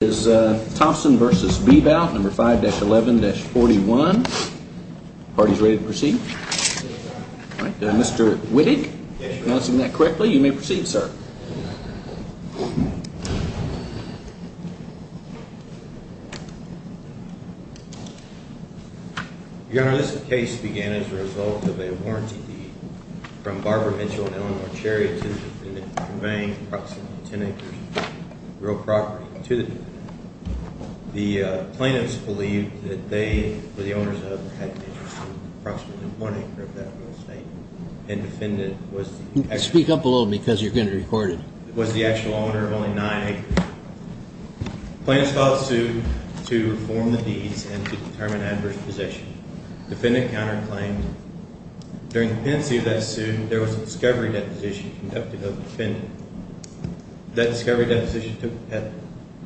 is Thompson versus Bebout number 5-11-41. Party's ready to proceed. Mr Wittig announcing that quickly. You may proceed, sir. Your Honor, this case began as a result of a warranty from Barbara Mitchell conveying approximately 10 acres of real property to the plaintiff. The plaintiffs believed that they were the owners of approximately one acre of that real estate. And defendant was speak up a little because you're going to record it was the actual owner of only nine acres. Plaintiffs filed a suit to reform the deeds and to determine adverse position. Defendant counterclaimed. During the pendency of that suit, there was a discovery deposition conducted of the defendant. That discovery deposition took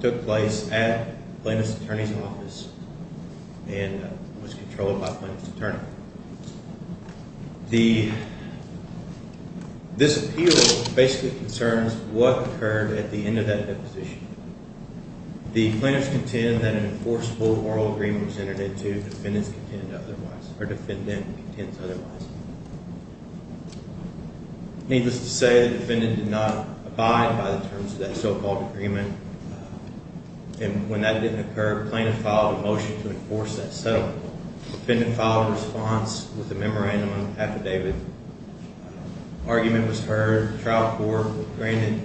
took place at plaintiff's attorney's office and was controlled by plaintiff's attorney. The this appeal basically concerns what occurred at the end of that deposition. The plaintiffs contend that an enforceable moral agreement was entered into. Defendants contend otherwise. Our defendant contends otherwise. Needless to say, the defendant did not abide by the terms of that so called agreement. And when that didn't occur, plaintiff filed a motion to enforce that settlement. Defendant filed a response with a memorandum affidavit. Argument was heard. Trial court granted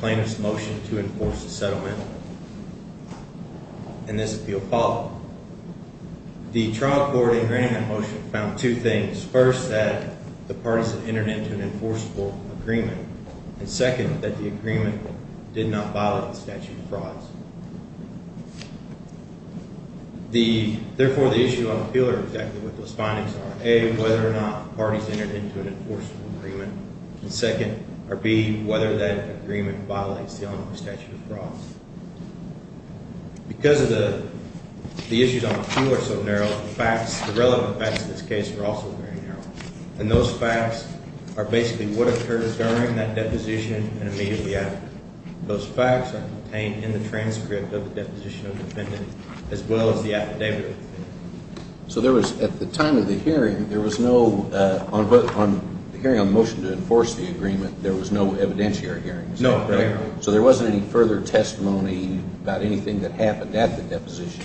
plaintiff's motion to enforce the settlement. And this appeal followed. The trial court in granting that motion found two things. First, that the enforceable agreement and second, that the agreement did not violate the statute of frauds. The therefore the issue of appeal exactly what those findings are a whether or not parties entered into an enforceable agreement and second or be whether that agreement violates the statute of frauds because of the issues on the floor so narrow facts. The relevant facts in this case were also very narrow, and those facts are basically what occurred during that deposition and immediately after. Those facts are contained in the transcript of the deposition of defendant as well as the affidavit. So there was at the time of the hearing, there was no on the hearing on motion to enforce the agreement. There was no evidentiary hearing. So there wasn't any further testimony about anything that happened at the deposition.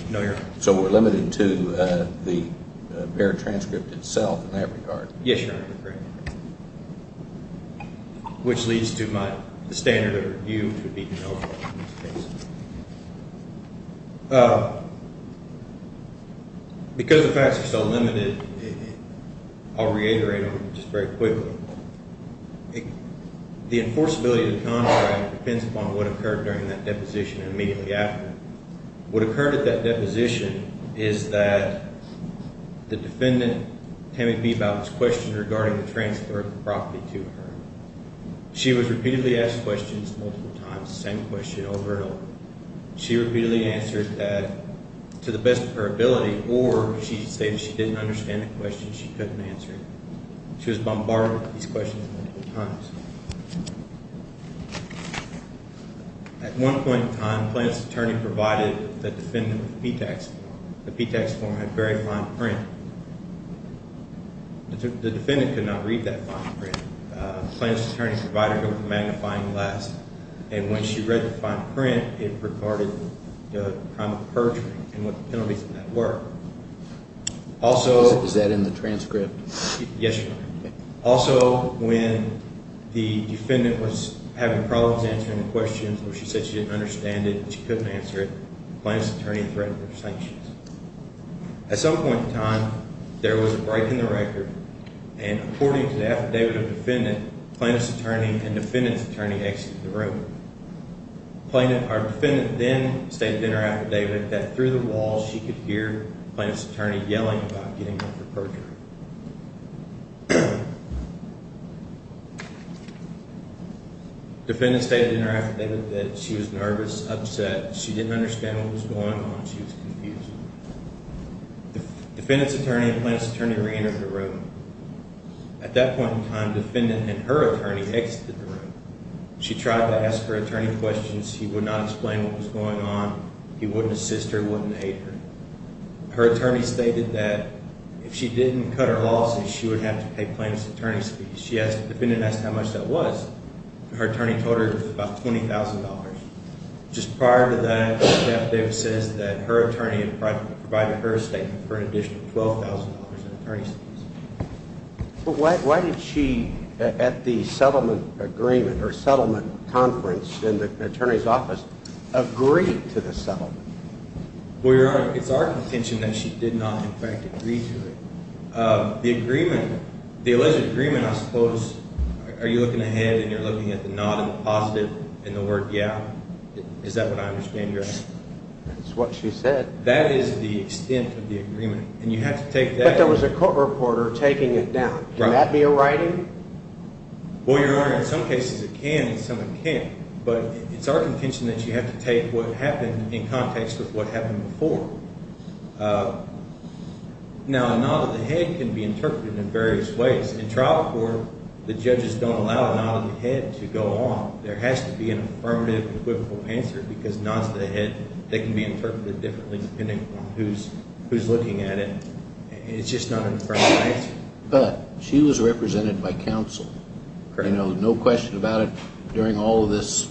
So we're to the pair transcript itself in that regard. Yes, which leads to my standard of review. Uh, because the facts are so limited, I'll reiterate on just very quickly. The enforceability of the contract depends upon what occurred during that deposition is that the defendant can be about this question regarding the transfer of property to her. She was repeatedly asked questions multiple times. Same question over and over. She repeatedly answered that to the best of her ability, or she said she didn't understand the question. She couldn't answer. She was bombarded with these questions times. Mhm. At one point in time, plaintiff's attorney provided the defendant the P tax. The P tax form had very fine print. The defendant could not read that fine print plaintiff's attorney provided magnifying glass. And when she read the fine print, it recorded the crime of perjury and what the penalties of that work. Also, is that in the transcript? Yes. Also, when the defendant was having problems answering the questions where she said she didn't understand it, she couldn't answer it. Plaintiff's attorney threatened their sanctions. At some point in time, there was a break in the record and according to the affidavit of defendant plaintiff's attorney and defendant's attorney exit the room. Plaintiff. Our defendant then stated in her affidavit that through the wall she could hear plaintiff's attorney yelling about getting her perjury. The defendant stated in her affidavit that she was nervous, upset. She didn't understand what was going on. She was confused. Defendant's attorney and plaintiff's attorney reentered the room. At that point in time, defendant and her attorney exited the room. She tried to ask her attorney questions. He would not explain what was going on. He wouldn't assist her, wouldn't hate her. Her attorney stated that if she didn't cut her losses, she would have to pay plaintiff's attorney's fees. She asked defendant asked how much that was. Her attorney told her it was about $20,000. Just prior to that, the affidavit says that her attorney had provided her estate for an additional $12,000 in attorney's fees. But why did she at the settlement agreement or settlement conference in the attorney's office agree to the settlement? Well, your honor, it's our contention that she did not in fact agree to it. Uh, the agreement, the are you looking ahead and you're looking at the nod and the positive in the word? Yeah. Is that what I understand? Yes, that's what she said. That is the extent of the agreement. And you have to take that. That was a court reporter taking it down. Can that be a writing? Well, your honor, in some cases it can and some it can't. But it's our contention that you have to take what happened in context with what happened before. Uh, no, no. The head can be interpreted in various ways. In trial court, the judges don't allow a nod of the head to go on. There has to be an affirmative and quibble answer because nods of the head that can be interpreted differently depending on who's who's looking at it. It's just not an affirmative answer. But she was represented by counsel. You know, no question about it. During all of this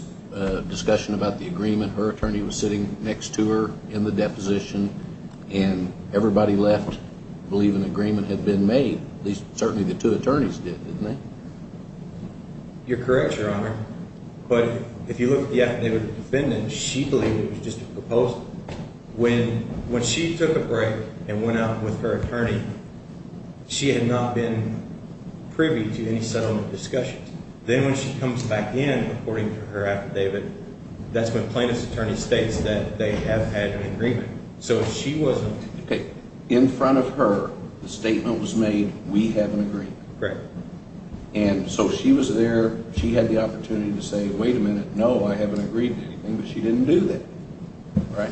discussion about the agreement, her everybody left believe an agreement had been made. At least certainly the two attorneys did, didn't they? You're correct, your honor. But if you look at the affidavit defendant, she believed it was just a proposal when when she took a break and went out with her attorney, she had not been privy to any settlement discussions. Then when she comes back in according to her affidavit, that's when plaintiff's states that they have had an agreement. So she wasn't in front of her. The statement was made. We have an agreement. And so she was there. She had the opportunity to say, Wait a minute. No, I haven't agreed. She didn't do that, right?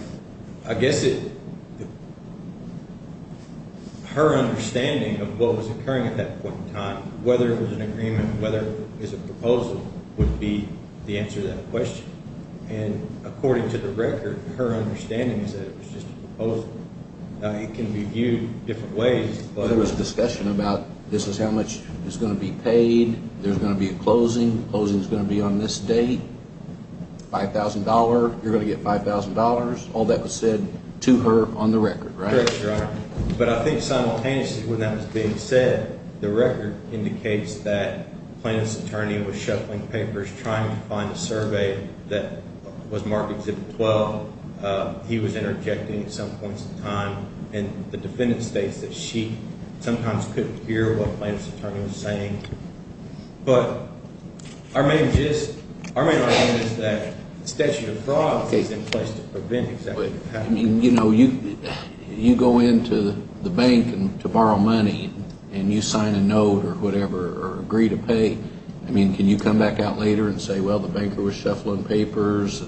I guess it her understanding of what was occurring at that point in time, whether it was an agreement, whether it's a proposal would be the answer to that question. And according to the record, her understanding is that it was just both that it can be viewed different ways. But there was a discussion about this is how much is gonna be paid. There's gonna be a closing. Closing is gonna be on this date. $5000. You're gonna get $5000. All that was said to her on the record, right? But I think simultaneously when that was being said, the record indicates that plaintiff's attorney was shuffling papers trying to survey that was marked. Well, he was interjecting some points of time, and the defendant states that she sometimes couldn't hear what plaintiff's attorney was saying. But our main gist, our main argument is that statute of fraud is in place to prevent exactly. You know, you go into the bank and to borrow money and you sign a note or whatever or agree to pay. I mean, can you come back out later and say, Well, the banker was shuffling papers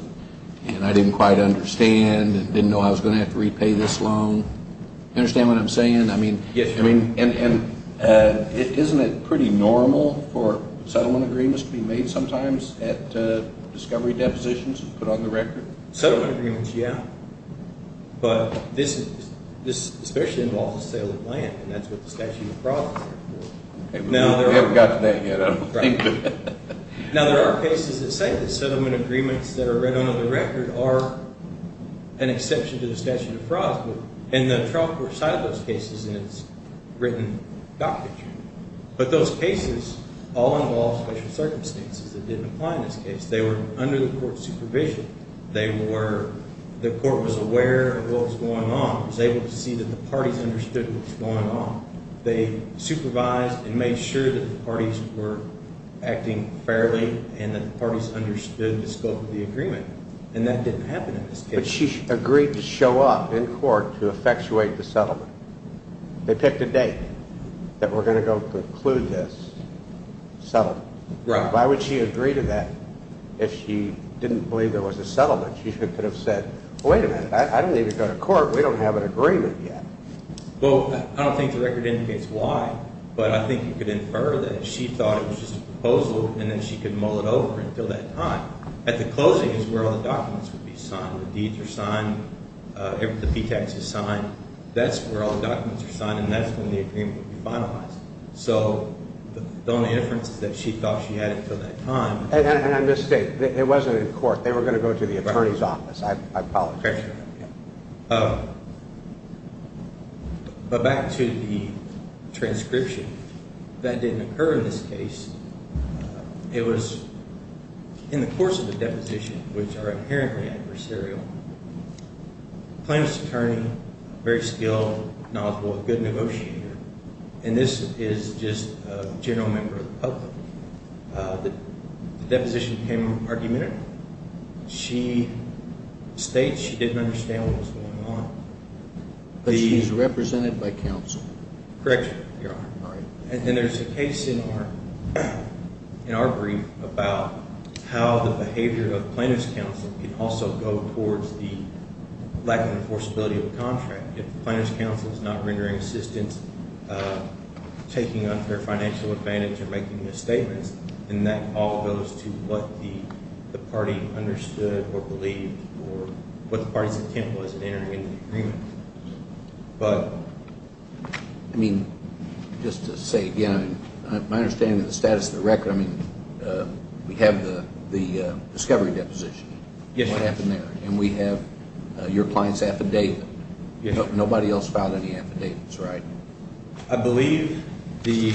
and I didn't quite understand and didn't know I was gonna have to repay this loan. Understand what I'm saying? I mean, I mean, isn't it pretty normal for settlement agreements to be made sometimes at discovery depositions put on the record? Settlement agreements, yeah. But this especially involves sale of land, and that's what the statute of fraud is there for. We haven't gotten there yet, I don't think. Now, there are cases that say that settlement agreements that are written on the record are an exception to the statute of fraud. And the trial court cited those cases in its written docket. But those cases all involve special circumstances that didn't apply in this case. They were under the court's supervision. They were, the court was aware of what was going on, was able to see that the parties understood what was going on. They supervised and made sure that the parties were acting fairly and that the parties understood the scope of the agreement. And that didn't happen in this case. But she agreed to show up in court to effectuate the settlement. They picked a date that we're going to go conclude this settlement. Why would she agree to that if she didn't believe there was a settlement? She could have said, wait a minute, I don't need to go to court, we don't have an agreement yet. Well, I don't think the record indicates why, but I think you could infer that she thought it was just a proposal, and then she could mull it over until that time. At the closing is where all the documents would be signed. The deeds are signed, the P-Tax is signed. That's where all the documents are signed, and that's when the agreement would be finalized. So the only difference is that she thought she had it until that time. And I mistake. It wasn't in court. They were going to go to the attorney's office. I apologize for that. But back to the transcription, that didn't occur in this case. It was in the course of the deposition, which are inherently adversarial, plaintiff's attorney, very skilled, knowledgeable, a good negotiator. And this is just a general member of the public. The deposition became argumentative. She states she didn't understand what was going on. But she's represented by counsel. Correct, Your Honor. All right. And then there's a case in our brief about how the behavior of plaintiff's counsel can also go towards the lack of enforceability of the contract. If the plaintiff's counsel is not rendering assistance, taking on fair financial advantage or making misstatements, then that all goes to what the party understood or believed or what the party's intent was in entering into the agreement. But... I mean, just to say again, my understanding of the status of the record, I mean, we have the discovery deposition. Yes. What happened there. And we have your client's affidavit. Yes, sir. Nobody else filed any affidavits, right? I believe the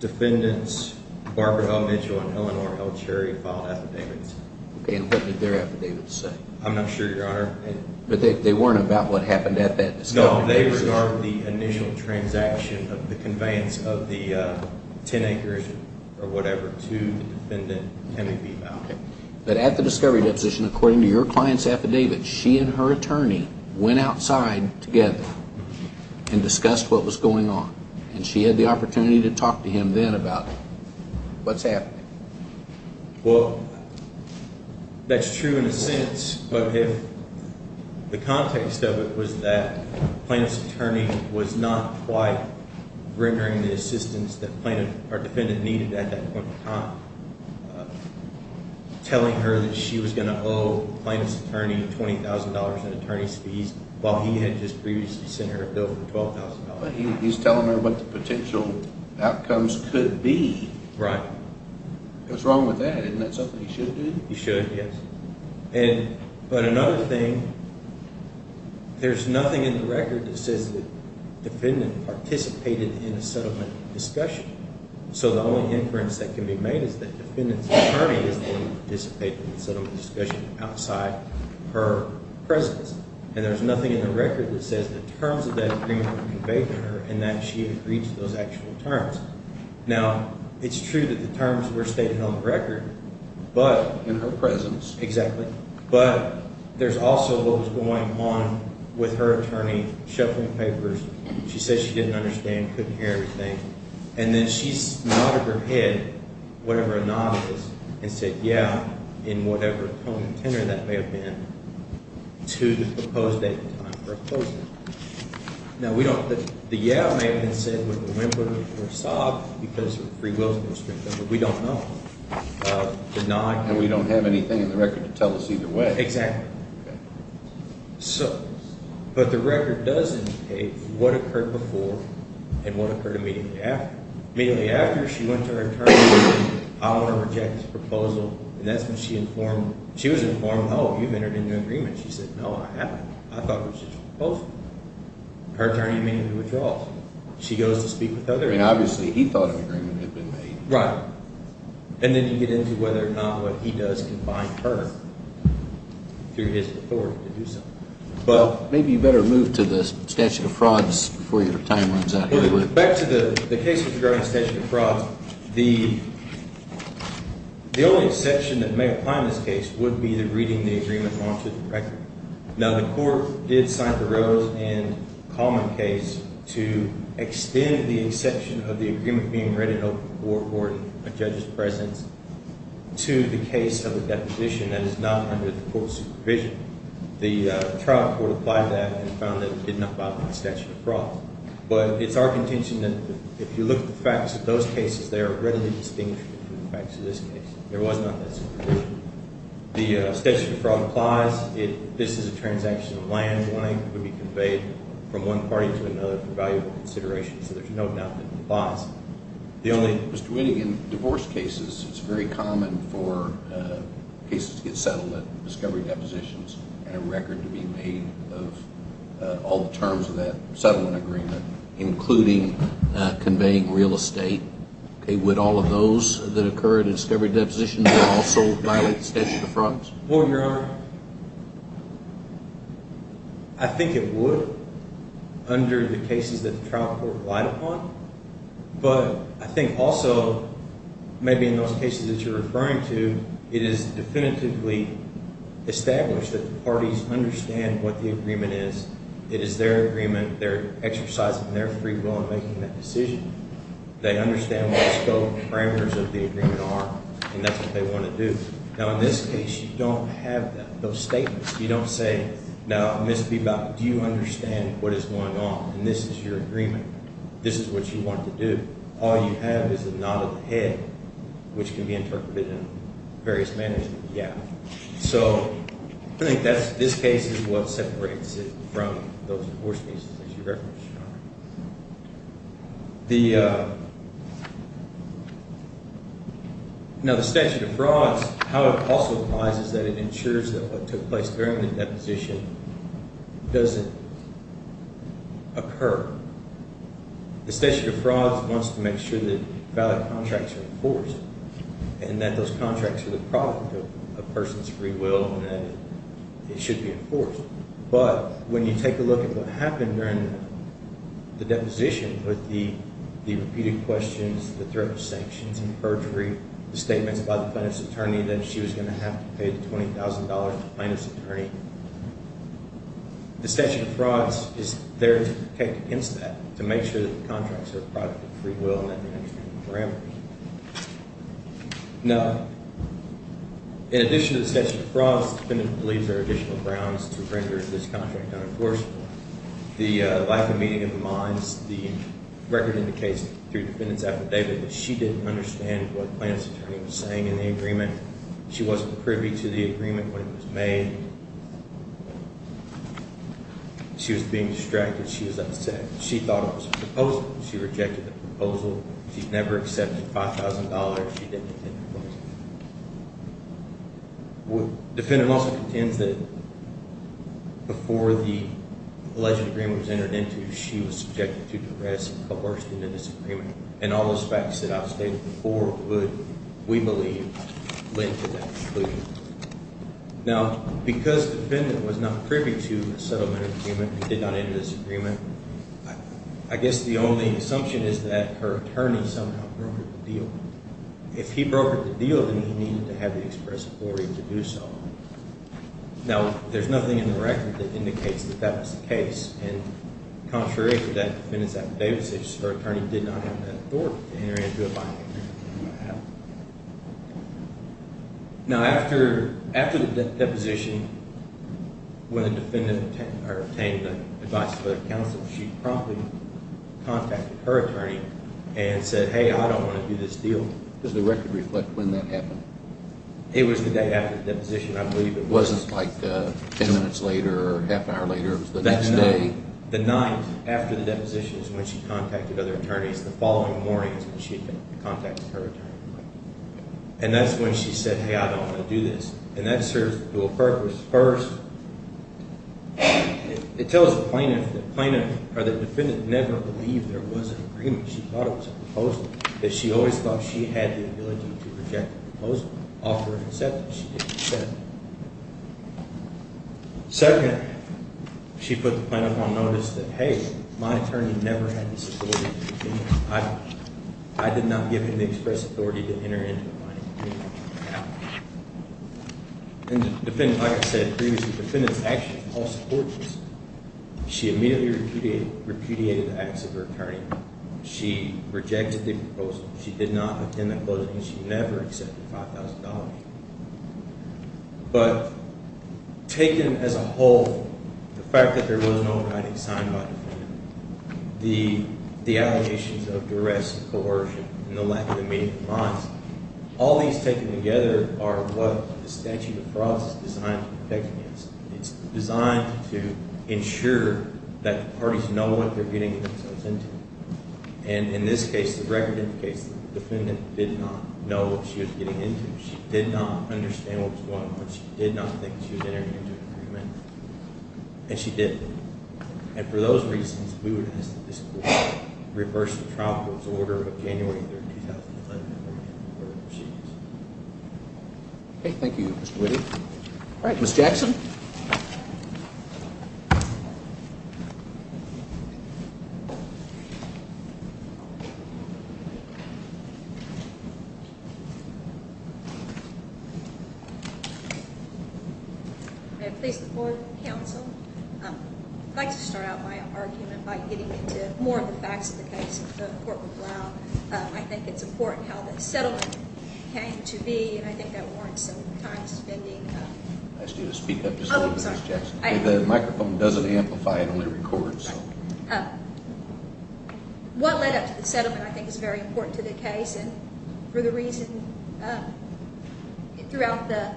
defendants, Barbara L. Mitchell and Eleanor L. Cherry, filed affidavits. And what did their affidavits say? I'm not sure, Your Honor. But they weren't about what happened at that discovery deposition. No, they regard the initial transaction of the conveyance of the 10 acres or whatever to the defendant can be about. But at the discovery deposition, according to your client's affidavit, she and her attorney went outside together and discussed what was going on. And she had the opportunity to talk to him then about what's happening. Well, that's true in a sense. But if the context of it was that the plaintiff's attorney was not quite rendering the assistance that our defendant needed at that point in time, telling her that she was going to owe the plaintiff's attorney $20,000 in attorney's fees while he had just previously sent her a bill for $12,000. But he's telling her what the potential outcomes could be. Right. What's wrong with that? Isn't that something he should do? He should, yes. But another thing, there's nothing in the record that says that the defendant participated in a settlement discussion. So the only inference that can be made is that the defendant's attorney didn't participate in the settlement discussion outside her presence. And there's nothing in the record that says the terms of that agreement were conveyed to her and that she agreed to those actual terms. Now, it's true that the terms were stated on the record, but… In her presence. Exactly. But there's also what was going on with her attorney shuffling papers. She said she didn't understand, couldn't hear everything. And then she nodded her head, whatever a nod was, and said, yeah, in whatever tone and tenor that may have been, to the proposed date and time for a closing. Now, we don't – the yeah may have been said with a whimper or a sob because her free will's been strengthened, but we don't know. And we don't have anything in the record to tell us either way. Exactly. Okay. So – but the record does indicate what occurred before and what occurred immediately after. Immediately after, she went to her attorney and said, I want to reject this proposal. And that's when she informed – she was informed, oh, you've entered into an agreement. She said, no, I haven't. I thought it was a joint proposal. Her attorney made a withdrawal. She goes to speak with other – I mean, obviously, he thought an agreement had been made. Right. And then you get into whether or not what he does can bind her through his authority to do so. But – Maybe you better move to the statute of frauds before your time runs out. Back to the case with regard to the statute of frauds, the only exception that may apply in this case would be the reading the agreement onto the record. Now, the court did cite the Rose and Coleman case to extend the exception of the agreement being read in open court or in a judge's presence to the case of a deposition that is not under the court's supervision. The trial court applied that and found that it did not violate the statute of fraud. But it's our contention that if you look at the facts of those cases, they are readily distinguishable from the facts of this case. There was not that situation. The statute of fraud applies. This is a transaction of land. The money would be conveyed from one party to another for valuable consideration. So there's no doubt that it applies. The only – It's very common for cases to get settled at discovery depositions and a record to be made of all the terms of that settlement agreement, including conveying real estate. Would all of those that occur at a discovery deposition also violate the statute of frauds? Well, Your Honor, I think it would under the cases that the trial court relied upon. But I think also maybe in those cases that you're referring to, it is definitively established that the parties understand what the agreement is. It is their agreement. They're exercising their free will in making that decision. They understand what the scope and parameters of the agreement are, and that's what they want to do. Now, in this case, you don't have those statements. You don't say, now, Ms. Bebock, do you understand what is going on? And this is your agreement. This is what you want to do. All you have is the nod of the head, which can be interpreted in various manners. Yeah. So I think that's – this case is what separates it from those divorce cases that you referenced, Your Honor. The – now, the statute of frauds, how it also applies is that it ensures that what took place during the deposition doesn't occur. The statute of frauds wants to make sure that valid contracts are enforced and that those contracts are the product of a person's free will and that it should be enforced. But when you take a look at what happened during the deposition with the repeated questions, the threat of sanctions and perjury, the statements by the plaintiff's attorney that she was going to have to pay the $20,000 to the plaintiff's attorney, the statute of frauds is there to protect against that, to make sure that the contracts are the product of free will and that they're in the right parameters. Now, in addition to the statute of frauds, the defendant believes there are additional grounds to render this contract unenforceable. The lack of meaning in the minds, the record indicates through the defendant's affidavit that she didn't understand what the plaintiff's attorney was saying in the agreement. She wasn't privy to the agreement when it was made. She was being distracted. She was upset. She rejected the proposal. She never accepted $5,000. The defendant also contends that before the alleged agreement was entered into, she was subjected to progress and coerced into this agreement. And all those facts that I've stated before would, we believe, lead to that conclusion. Now, because the defendant was not privy to the settlement agreement and did not enter this agreement, I guess the only assumption is that her attorney somehow broke the deal. If he broke the deal, then he needed to have the express authority to do so. Now, there's nothing in the record that indicates that that was the case. And contrary to that defendant's affidavit, her attorney did not have the authority to enter into a binding agreement. Wow. Now, after the deposition, when the defendant obtained the advice of other counsel, she promptly contacted her attorney and said, Hey, I don't want to do this deal. Does the record reflect when that happened? It was the day after the deposition, I believe. It wasn't like 10 minutes later or half an hour later? It was the next day? The night after the deposition is when she contacted other attorneys. The following morning is when she contacted her attorney. And that's when she said, Hey, I don't want to do this. And that serves a dual purpose. First, it tells the plaintiff that the defendant never believed there was an agreement. She thought it was a proposal. She always thought she had the ability to reject the proposal, offer an acceptance. She didn't accept it. Second, she put the plaintiff on notice that, Hey, my attorney never had this authority. I did not give him the express authority to enter into a binding agreement. And the defendant, like I said previously, the defendant's actions were all supportless. She immediately repudiated the acts of her attorney. She rejected the proposal. She did not attend the closing. She never accepted $5,000. But taken as a whole, the fact that there was no writing signed by the defendant, the allegations of duress, coercion, and the lack of immediate compliance, all these taken together are what the statute of frauds is designed to protect against. It's designed to ensure that the parties know what they're getting themselves into. And in this case, the record indicates the defendant did not know what she was getting into. She did not understand what was going on. She did not think she was entering into an agreement. And she didn't. And for those reasons, we would ask that this court reverse the trial court's order of January 3rd, 2011. Okay, thank you, Mr. Whitty. All right, Ms. Jackson. May I please support the counsel? I'd like to start out my argument by getting into more of the facts of the case in court with Brown. I think it's important how the settlement came to be, and I think that warrants some time spending. I asked you to speak up just a little bit, Ms. Jackson. Oh, I'm sorry. The microphone doesn't amplify, it only records. What led up to the settlement, I think, is very important to the case. And for the reason, throughout the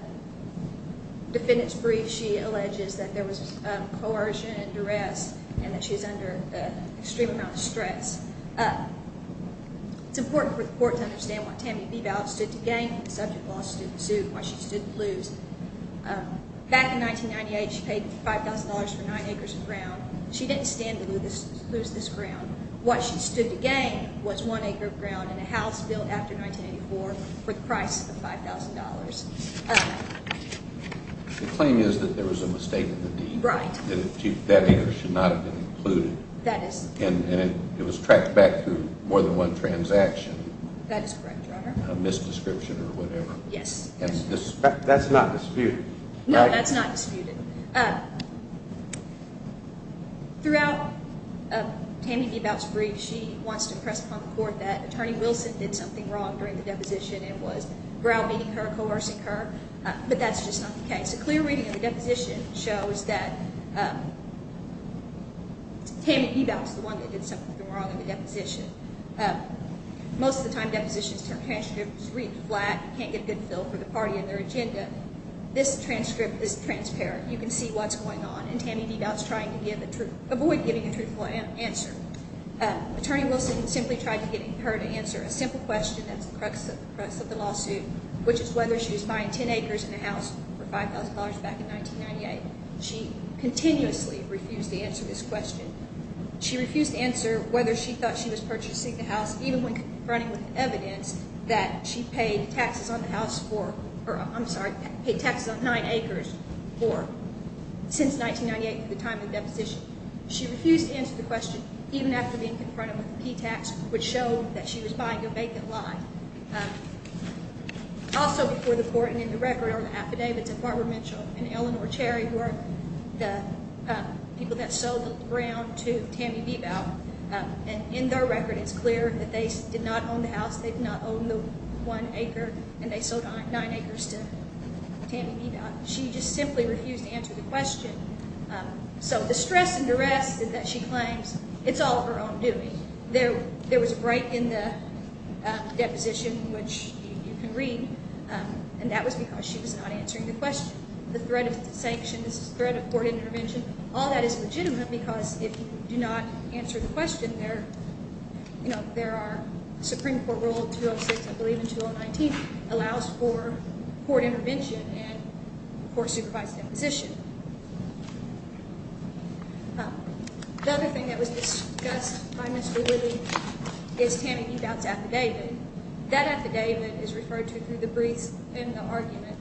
defendant's brief, she alleges that there was coercion and duress and that she was under an extreme amount of stress. It's important for the court to understand why Tammy Bebout stood to gain. The subject of the lawsuit, why she stood to lose. Back in 1998, she paid $5,000 for nine acres of ground. She didn't stand to lose this ground. Why she stood to gain was one acre of ground in a house built after 1984 for the price of $5,000. The claim is that there was a mistake in the deed. Right. That acre should not have been included. That is correct. And it was tracked back through more than one transaction. That is correct, Your Honor. A misdescription or whatever. Yes. That's not disputed. No, that's not disputed. Throughout Tammy Bebout's brief, she wants to impress upon the court that Attorney Wilson did something wrong during the deposition and was grounding her, coercing her, but that's just not the case. A clear reading of the deposition shows that Tammy Bebout is the one that did something wrong in the deposition. Most of the time, depositions turn transcripts, read flat, can't get a good feel for the party and their agenda. This transcript is transparent. You can see what's going on. And Tammy Bebout is trying to avoid giving a truthful answer. Attorney Wilson simply tried to get her to answer a simple question that's the crux of the lawsuit, which is whether she was buying 10 acres and a house for $5,000 back in 1998. She continuously refused to answer this question. She refused to answer whether she thought she was purchasing the house, even when confronting with evidence that she paid taxes on the house for, or I'm sorry, paid taxes on nine acres since 1998 for the time of the deposition. She refused to answer the question, even after being confronted with a P-tax, which showed that she was buying a vacant lot. Also before the court and in the record are the affidavits of Barbara Mitchell and Eleanor Cherry, who are the people that sold the ground to Tammy Bebout. In their record, it's clear that they did not own the house. They did not own the one acre, and they sold nine acres to Tammy Bebout. She just simply refused to answer the question. So the stress and duress that she claims, it's all her own doing. There was a break in the deposition, which you can read, and that was because she was not answering the question. The threat of sanctions, threat of court intervention, all that is legitimate because if you do not answer the question, there are Supreme Court Rule 206, I believe in 2019, allows for court intervention and for supervised deposition. The other thing that was discussed by Mr. Whitty is Tammy Bebout's affidavit. That affidavit is referred to through the briefs in the argument.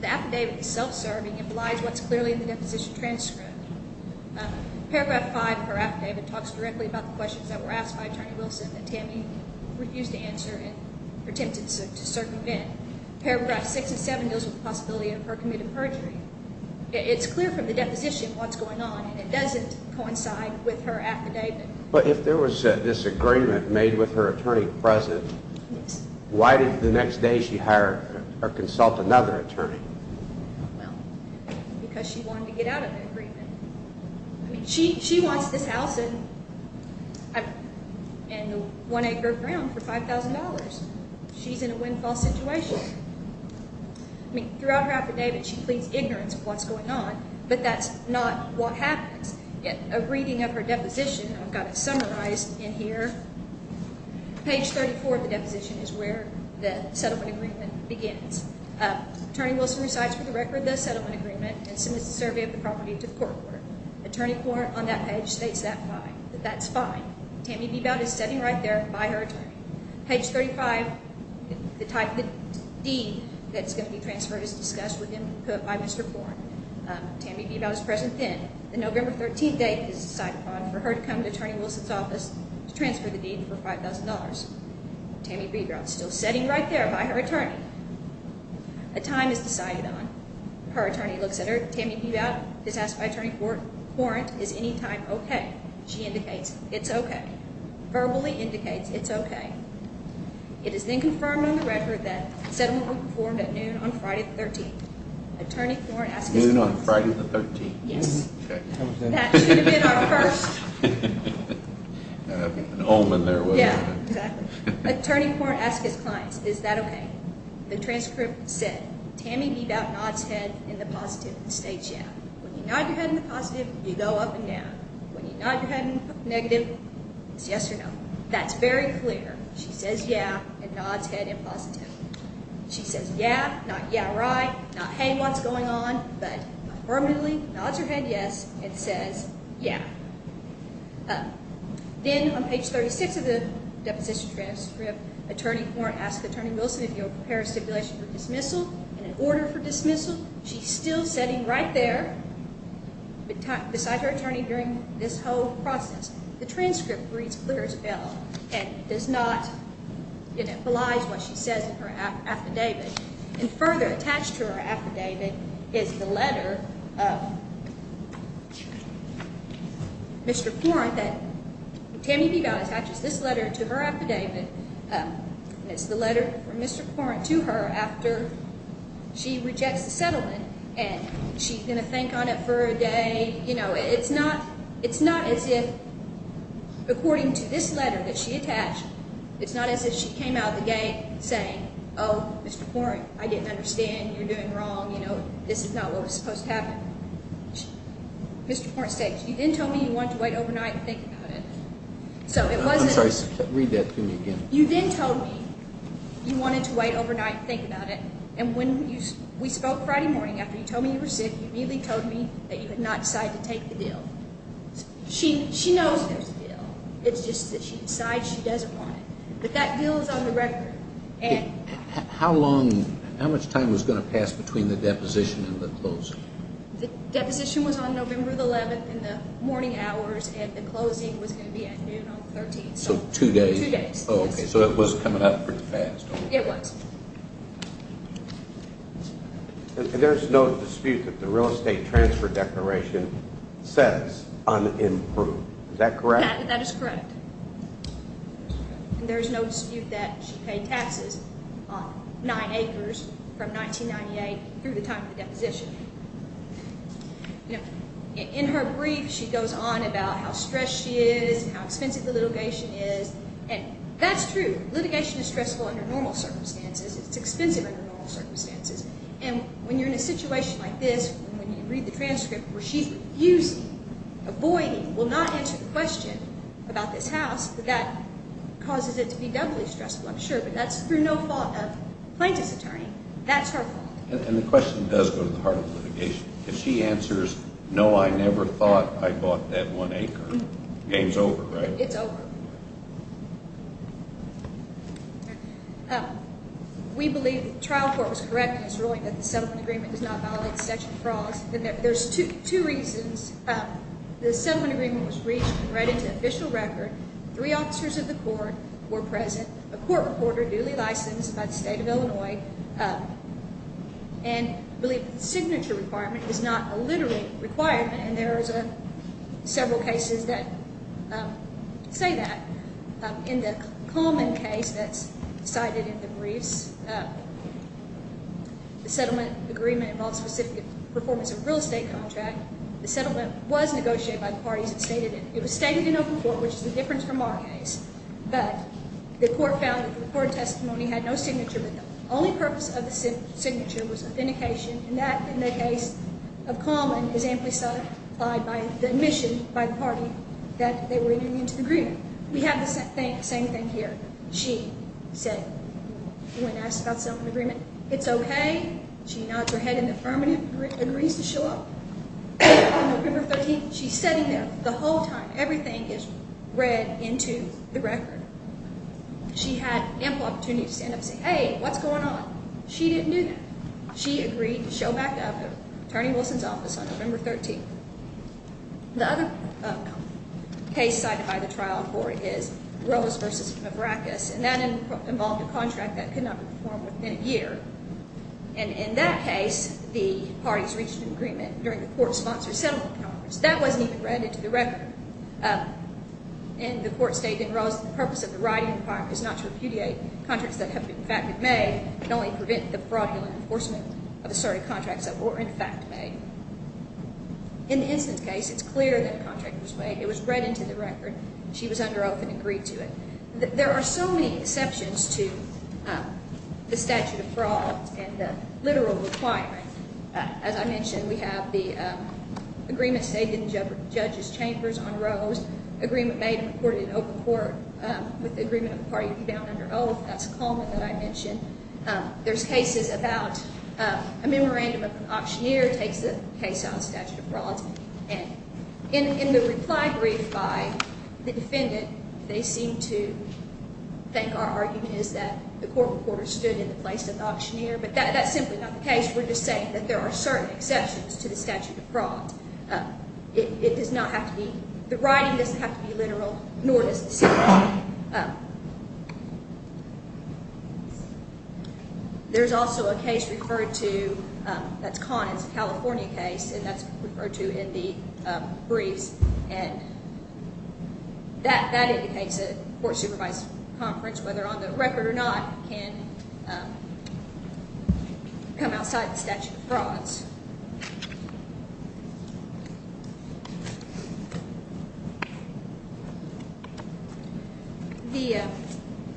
The affidavit is self-serving and belies what's clearly in the deposition transcript. Paragraph 5 of her affidavit talks directly about the questions that were asked by Attorney Wilson that Tammy refused to answer and attempted to circumvent. Paragraph 6 and 7 deals with the possibility of her committing perjury. It's clear from the deposition what's going on, and it doesn't coincide with her affidavit. But if there was this agreement made with her attorney present, why did the next day she hire or consult another attorney? Well, because she wanted to get out of the agreement. I mean, she wants this house and the one acre of ground for $5,000. She's in a windfall situation. I mean, throughout her affidavit, she pleads ignorance of what's going on, but that's not what happens. A reading of her deposition, I've got it summarized in here. Page 34 of the deposition is where the settlement agreement begins. Attorney Wilson recites for the record the settlement agreement and submits a survey of the property to the court order. Attorney Porn on that page states that's fine. Tammy Bebout is sitting right there by her attorney. Page 35, the deed that's going to be transferred is discussed with input by Mr. Porn. Tammy Bebout is present then. The November 13th date is decided upon for her to come to Attorney Wilson's office to transfer the deed for $5,000. Tammy Bebout is still sitting right there by her attorney. A time is decided on. Her attorney looks at her. Tammy Bebout is asked by Attorney Porn if any time is okay. She indicates it's okay. Verbally indicates it's okay. It is then confirmed on the record that settlement will be performed at noon on Friday the 13th. Noon on Friday the 13th? Yes. That should have been our first. An omen there, wouldn't it? Yeah, exactly. Attorney Porn asks his clients, is that okay? The transcript said, Tammy Bebout nods head in the positive and states yeah. When you nod your head in the positive, you go up and down. When you nod your head in the negative, it's yes or no. That's very clear. She says yeah and nods head in positive. She says yeah, not yeah right, not hey what's going on, but affirmatively nods her head yes and says yeah. Then on page 36 of the deposition transcript, Attorney Porn asks Attorney Wilson if he will prepare a stipulation for dismissal. In order for dismissal, she's still sitting right there beside her attorney during this whole process. The transcript reads clear as a bell and does not belies what she says in her affidavit. And further attached to her affidavit is the letter of Mr. Porrent that Tammy Bebout attaches this letter to her affidavit. It's the letter from Mr. Porrent to her after she rejects the settlement and she's going to think on it for a day. It's not as if, according to this letter that she attached, it's not as if she came out of the gate saying, oh Mr. Porrent, I didn't understand, you're doing wrong, this is not what was supposed to happen. Mr. Porrent states, you then told me you wanted to wait overnight and think about it. I'm sorry, read that to me again. You then told me you wanted to wait overnight and think about it. And when we spoke Friday morning after you told me you were sick, you immediately told me that you had not decided to take the deal. She knows there's a deal, it's just that she decides she doesn't want it. But that deal is on the record. How much time was going to pass between the deposition and the closing? The deposition was on November 11th in the morning hours and the closing was going to be at noon on the 13th. So two days. Two days. So it was coming up pretty fast. It was. And there's no dispute that the real estate transfer declaration says unimproved. Is that correct? That is correct. And there's no dispute that she paid taxes on nine acres from 1998 through the time of the deposition. In her brief, she goes on about how stressed she is and how expensive the litigation is. And that's true. Litigation is stressful under normal circumstances. It's expensive under normal circumstances. And when you're in a situation like this, when you read the transcript where she's refusing, avoiding, will not answer the question about this house, that causes it to be doubly stressful, I'm sure. But that's through no fault of plaintiff's attorney. That's her fault. And the question does go to the heart of litigation. If she answers, no, I never thought I bought that one acre, the game's over, right? It's over. We believe the trial court was correct in its ruling that the settlement agreement does not violate the Section of Fraud. There's two reasons. The settlement agreement was reached and read into official record. Three officers of the court were present, a court reporter duly licensed by the state of Illinois, and believe the signature requirement is not a literate requirement. And there's several cases that say that. In the Kalman case that's cited in the briefs, the settlement agreement involves specific performance of a real estate contract. The settlement was negotiated by the parties that stated it. It was stated in open court, which is the difference from our case. But the court found that the court testimony had no signature, but the only purpose of the signature was authentication. And that, in the case of Kalman, is amplified by the admission by the party that they were entering into the agreement. We have the same thing here. She said, when asked about the settlement agreement, it's okay. She nods her head in affirmative, agrees to show up on November 13th. She's sitting there the whole time. Everything is read into the record. She had ample opportunity to stand up and say, hey, what's going on? She didn't do that. She agreed to show back up at Attorney Wilson's office on November 13th. The other case cited by the trial court is Rose v. Mavrakis, and that involved a contract that could not be performed within a year. And in that case, the parties reached an agreement during the court-sponsored settlement conference. That wasn't even read into the record. And the court stated in Rose that the purpose of the writing requirement is not to repudiate contracts that have, in fact, been made, but only to prevent the fraudulent enforcement of the sort of contracts that were, in fact, made. In the instance case, it's clear that a contract was made. It was read into the record. She was under oath and agreed to it. There are so many exceptions to the statute of fraud and the literal requirement. As I mentioned, we have the agreement stated in the judge's chambers on Rose, agreement made and reported in open court with the agreement of the party to be bound under oath. That's a comment that I mentioned. There's cases about a memorandum of an auctioneer takes the case on statute of fraud. And in the reply brief by the defendant, they seem to think our argument is that the court reporter stood in the place of the auctioneer. But that's simply not the case. We're just saying that there are certain exceptions to the statute of fraud. It does not have to be the writing doesn't have to be literal, nor does the statute. There's also a case referred to that's caught. It's a California case, and that's referred to in the briefs. And that indicates a court-supervised conference, whether on the record or not, can come outside the statute of frauds. The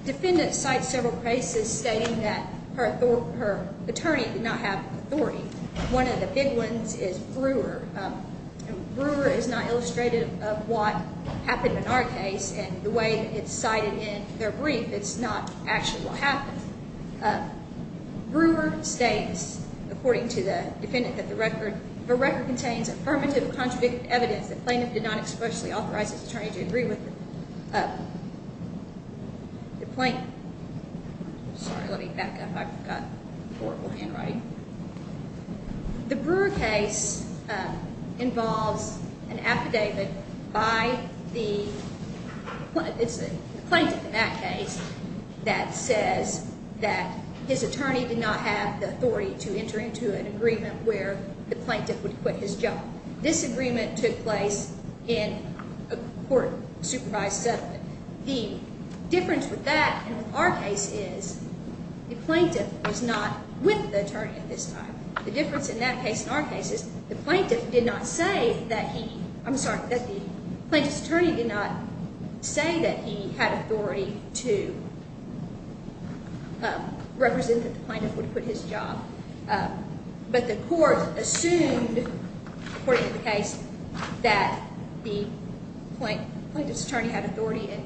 defendant cites several cases stating that her attorney did not have authority. One of the big ones is Brewer. Brewer is not illustrative of what happened in our case. And the way it's cited in their brief, it's not actually what happened. Brewer states, according to the defendant, that the record contains affirmative or contradictive evidence that plaintiff did not expressly authorize his attorney to agree with the plaintiff. Sorry, let me back up. I've got horrible handwriting. The Brewer case involves an affidavit by the plaintiff in that case that says that his attorney did not have the authority to enter into an agreement where the plaintiff would quit his job. This agreement took place in a court-supervised settlement. The difference with that and with our case is the plaintiff was not with the attorney at this time. The difference in that case and our case is the plaintiff did not say that he—I'm sorry, that the plaintiff's attorney did not say that he had authority to represent that the plaintiff would quit his job. But the court assumed, according to the case, that the plaintiff's attorney had authority and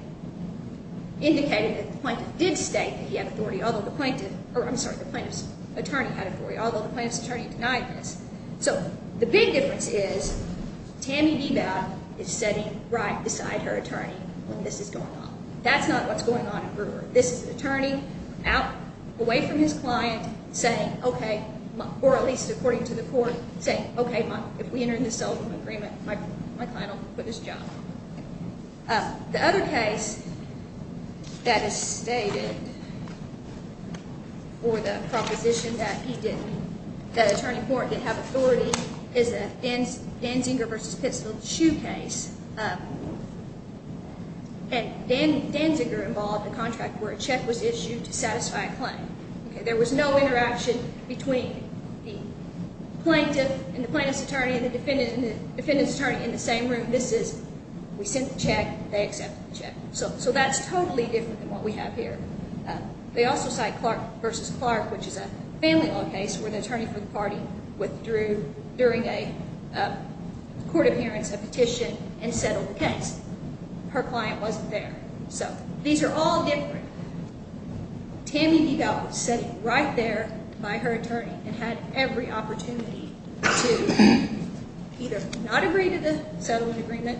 indicated that the plaintiff did state that he had authority, although the plaintiff—or, I'm sorry, the plaintiff's attorney had authority, although the plaintiff's attorney denied this. So the big difference is Tammy Bebout is sitting right beside her attorney when this is going on. That's not what's going on in Brewer. This is an attorney out, away from his client, saying, okay—or at least according to the court, saying, okay, if we enter into a settlement agreement, my client will quit his job. The other case that is stated for the proposition that he didn't—the attorney court didn't have authority is the Danziger v. Pittsfield Shoe case. And Danziger involved a contract where a check was issued to satisfy a claim. There was no interaction between the plaintiff and the plaintiff's attorney and the defendant and the defendant's attorney in the same room. This is, we sent the check, they accepted the check. So that's totally different than what we have here. They also cite Clark v. Clark, which is a family law case where the attorney for the party withdrew during a court appearance, a petition, and settled the case. Her client wasn't there. So these are all different. Tammy DeVal was sitting right there by her attorney and had every opportunity to either not agree to the settlement agreement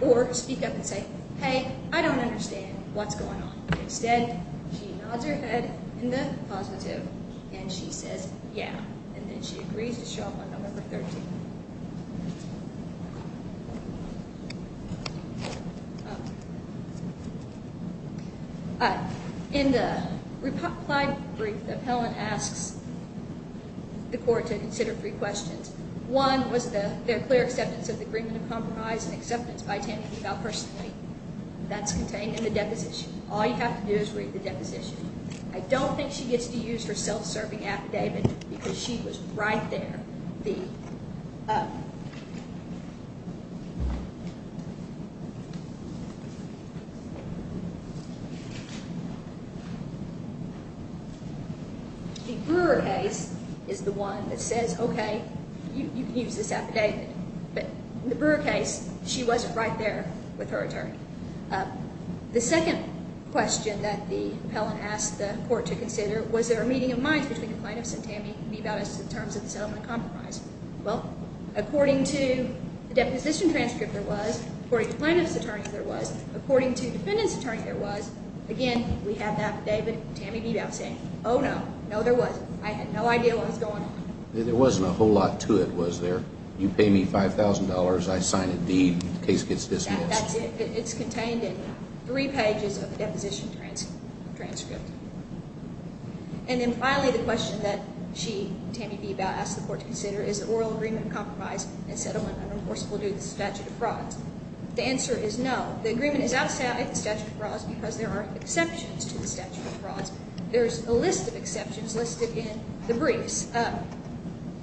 or speak up and say, hey, I don't understand what's going on. Instead, she nods her head in the positive and she says, yeah, and then she agrees to show up on November 13th. In the reply brief, the appellant asks the court to consider three questions. One was their clear acceptance of the agreement of compromise and acceptance by Tammy DeVal personally. That's contained in the deposition. All you have to do is read the deposition. I don't think she gets to use her self-serving affidavit because she was right there. The Brewer case is the one that says, okay, you can use this affidavit. But in the Brewer case, she wasn't right there with her attorney. The second question that the appellant asked the court to consider was there a meeting of minds between the plaintiffs and Tammy DeVal as to the terms of the settlement compromise. Well, according to the deposition transcript there was, according to the plaintiff's attorney there was, according to the defendant's attorney there was, again, we have that David and Tammy DeVal saying, oh, no, no, there wasn't. I had no idea what was going on. There wasn't a whole lot to it, was there? You pay me $5,000. I sign a deed. The case gets dismissed. That's it. It's contained in three pages of the deposition transcript. And then finally the question that she, Tammy DeVal, asked the court to consider is the oral agreement compromise and settlement unenforceable due to the statute of frauds. The answer is no. The agreement is outside the statute of frauds because there are exceptions to the statute of frauds. There's a list of exceptions listed in the briefs.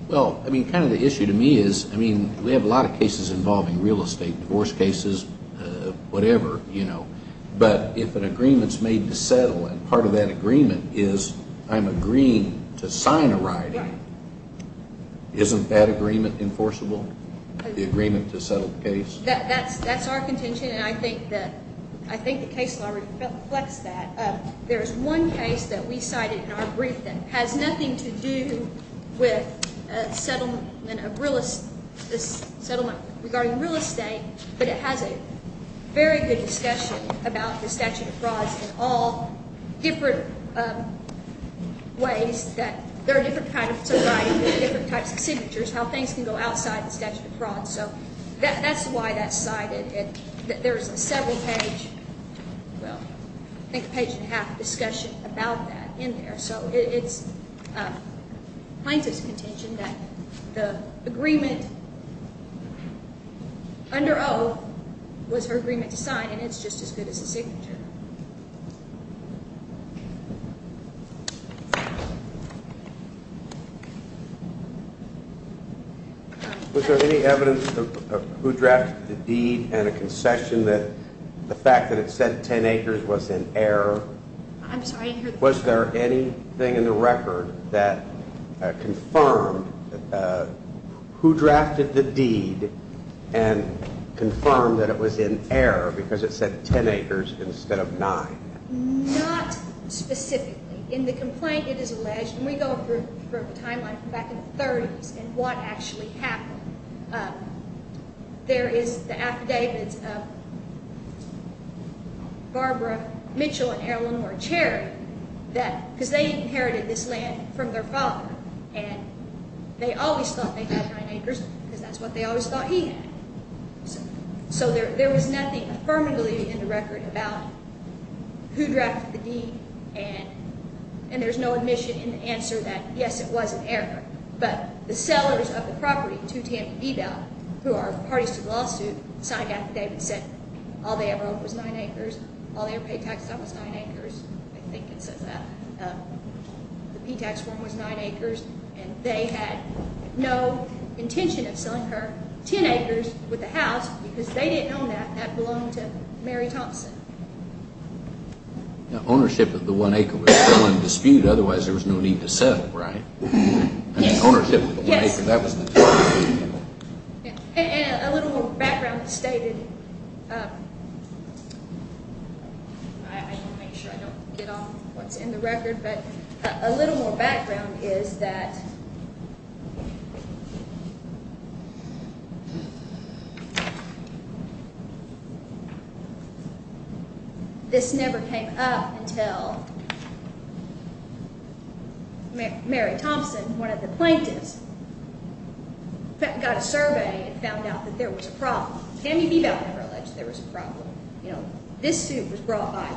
Well, I mean, kind of the issue to me is, I mean, we have a lot of cases involving real estate, divorce cases, whatever, you know. But if an agreement is made to settle and part of that agreement is I'm agreeing to sign a right, isn't that agreement enforceable, the agreement to settle the case? That's our contention. And I think the case law reflects that. There is one case that we cited in our brief that has nothing to do with a settlement of real estate, a settlement regarding real estate, but it has a very good discussion about the statute of frauds in all different ways that there are different kinds of writing, different types of signatures, how things can go outside the statute of frauds. So that's why that's cited. There's a several page, well, I think a page and a half discussion about that in there. So it's plaintiff's contention that the agreement under O was her agreement to sign, and it's just as good as a signature. Thank you. Was there any evidence of who drafted the deed and a concession that the fact that it said 10 acres was in error? I'm sorry? Was there anything in the record that confirmed who drafted the deed and confirmed that it was in error because it said 10 acres instead of 9? Not specifically. In the complaint, it is alleged, and we go through a timeline from back in the 30s and what actually happened. There is the affidavits of Barbara Mitchell and Erilyn Moore Cherry because they inherited this land from their father, and they always thought they had 9 acres because that's what they always thought he had. So there was nothing affirmatively in the record about who drafted the deed, and there's no admission in the answer that, yes, it was in error. But the sellers of the property, 2 Tampa D-Val, who are parties to the lawsuit, signed the affidavit and said all they ever owned was 9 acres, all they ever paid tax on was 9 acres. I think it says that. The P-tax form was 9 acres, and they had no intention of selling her 10 acres with the house because they didn't own that. That belonged to Mary Thompson. Ownership of the 1 acre was still in dispute. Otherwise, there was no need to settle, right? Ownership of the 1 acre, that was the dispute. And a little more background is stated. I want to make sure I don't get on what's in the record. But a little more background is that this never came up until Mary Thompson, one of the plaintiffs, got a survey and found out that there was a problem. Tampa D-Val never alleged there was a problem. This suit was brought by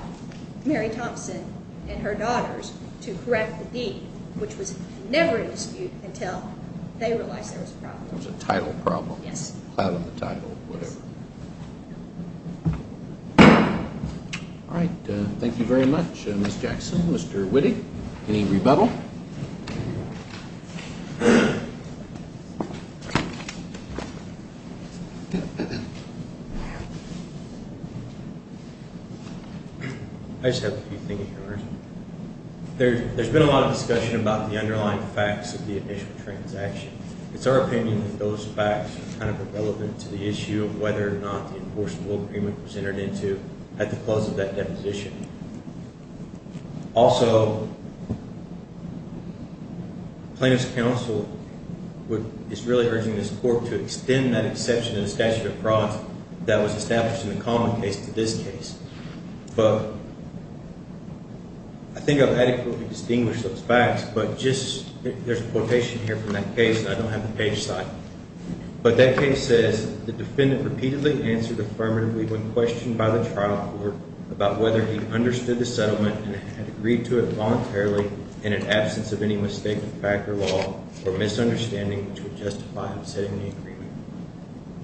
Mary Thompson and her daughters to correct the deed, which was never in dispute until they realized there was a problem. There was a title problem. Yes. Cloud on the title, whatever. All right. Thank you very much, Ms. Jackson. Mr. Witte, any rebuttal? I just have a few things. There's been a lot of discussion about the underlying facts of the initial transaction. It's our opinion that those facts are kind of relevant to the issue of whether or not the enforceable agreement was entered into at the close of that deposition. Also, plaintiff's counsel is really urging this court to extend that exception in the statute of frauds that was established in the common case to this case. But I think I've adequately distinguished those facts. But just there's a quotation here from that case, and I don't have the page cited. But that case says, the defendant repeatedly answered affirmatively when questioned by the trial court about whether he understood the settlement and had agreed to it voluntarily in an absence of any mistake of fact or law or misunderstanding which would justify upsetting the agreement.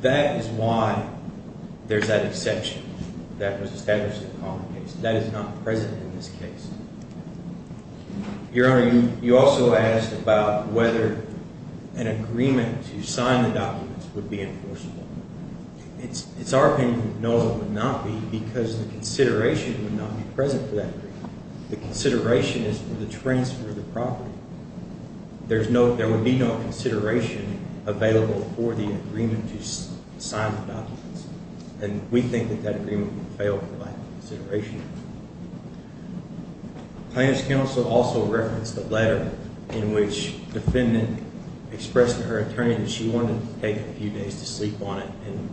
That is why there's that exception that was established in the common case. That is not present in this case. Your Honor, you also asked about whether an agreement to sign the documents would be enforceable. It's our opinion that no, it would not be because the consideration would not be present for that agreement. The consideration is for the transfer of the property. There would be no consideration available for the agreement to sign the documents. And we think that that agreement would fail for lack of consideration. Plaintiff's counsel also referenced the letter in which the defendant expressed to her attorney that she wanted to take a few days to sleep on it and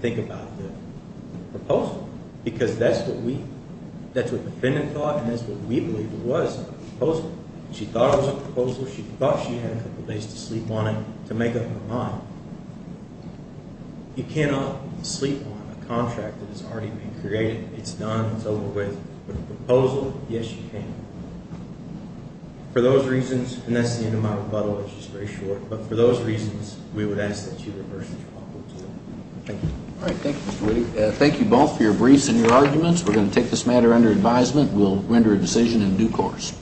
think about the proposal. Because that's what we, that's what the defendant thought and that's what we believe was the proposal. She thought it was a proposal. She thought she had a couple days to sleep on it to make up her mind. You cannot sleep on a contract that has already been created. It's done, it's over with. With a proposal, yes you can. For those reasons, and that's the end of my rebuttal, which is very short. But for those reasons, we would ask that you reverse the trial. Thank you. All right, thank you, Mr. Whitty. Thank you both for your briefs and your arguments. We're going to take this matter under advisement. We'll render a decision in due course.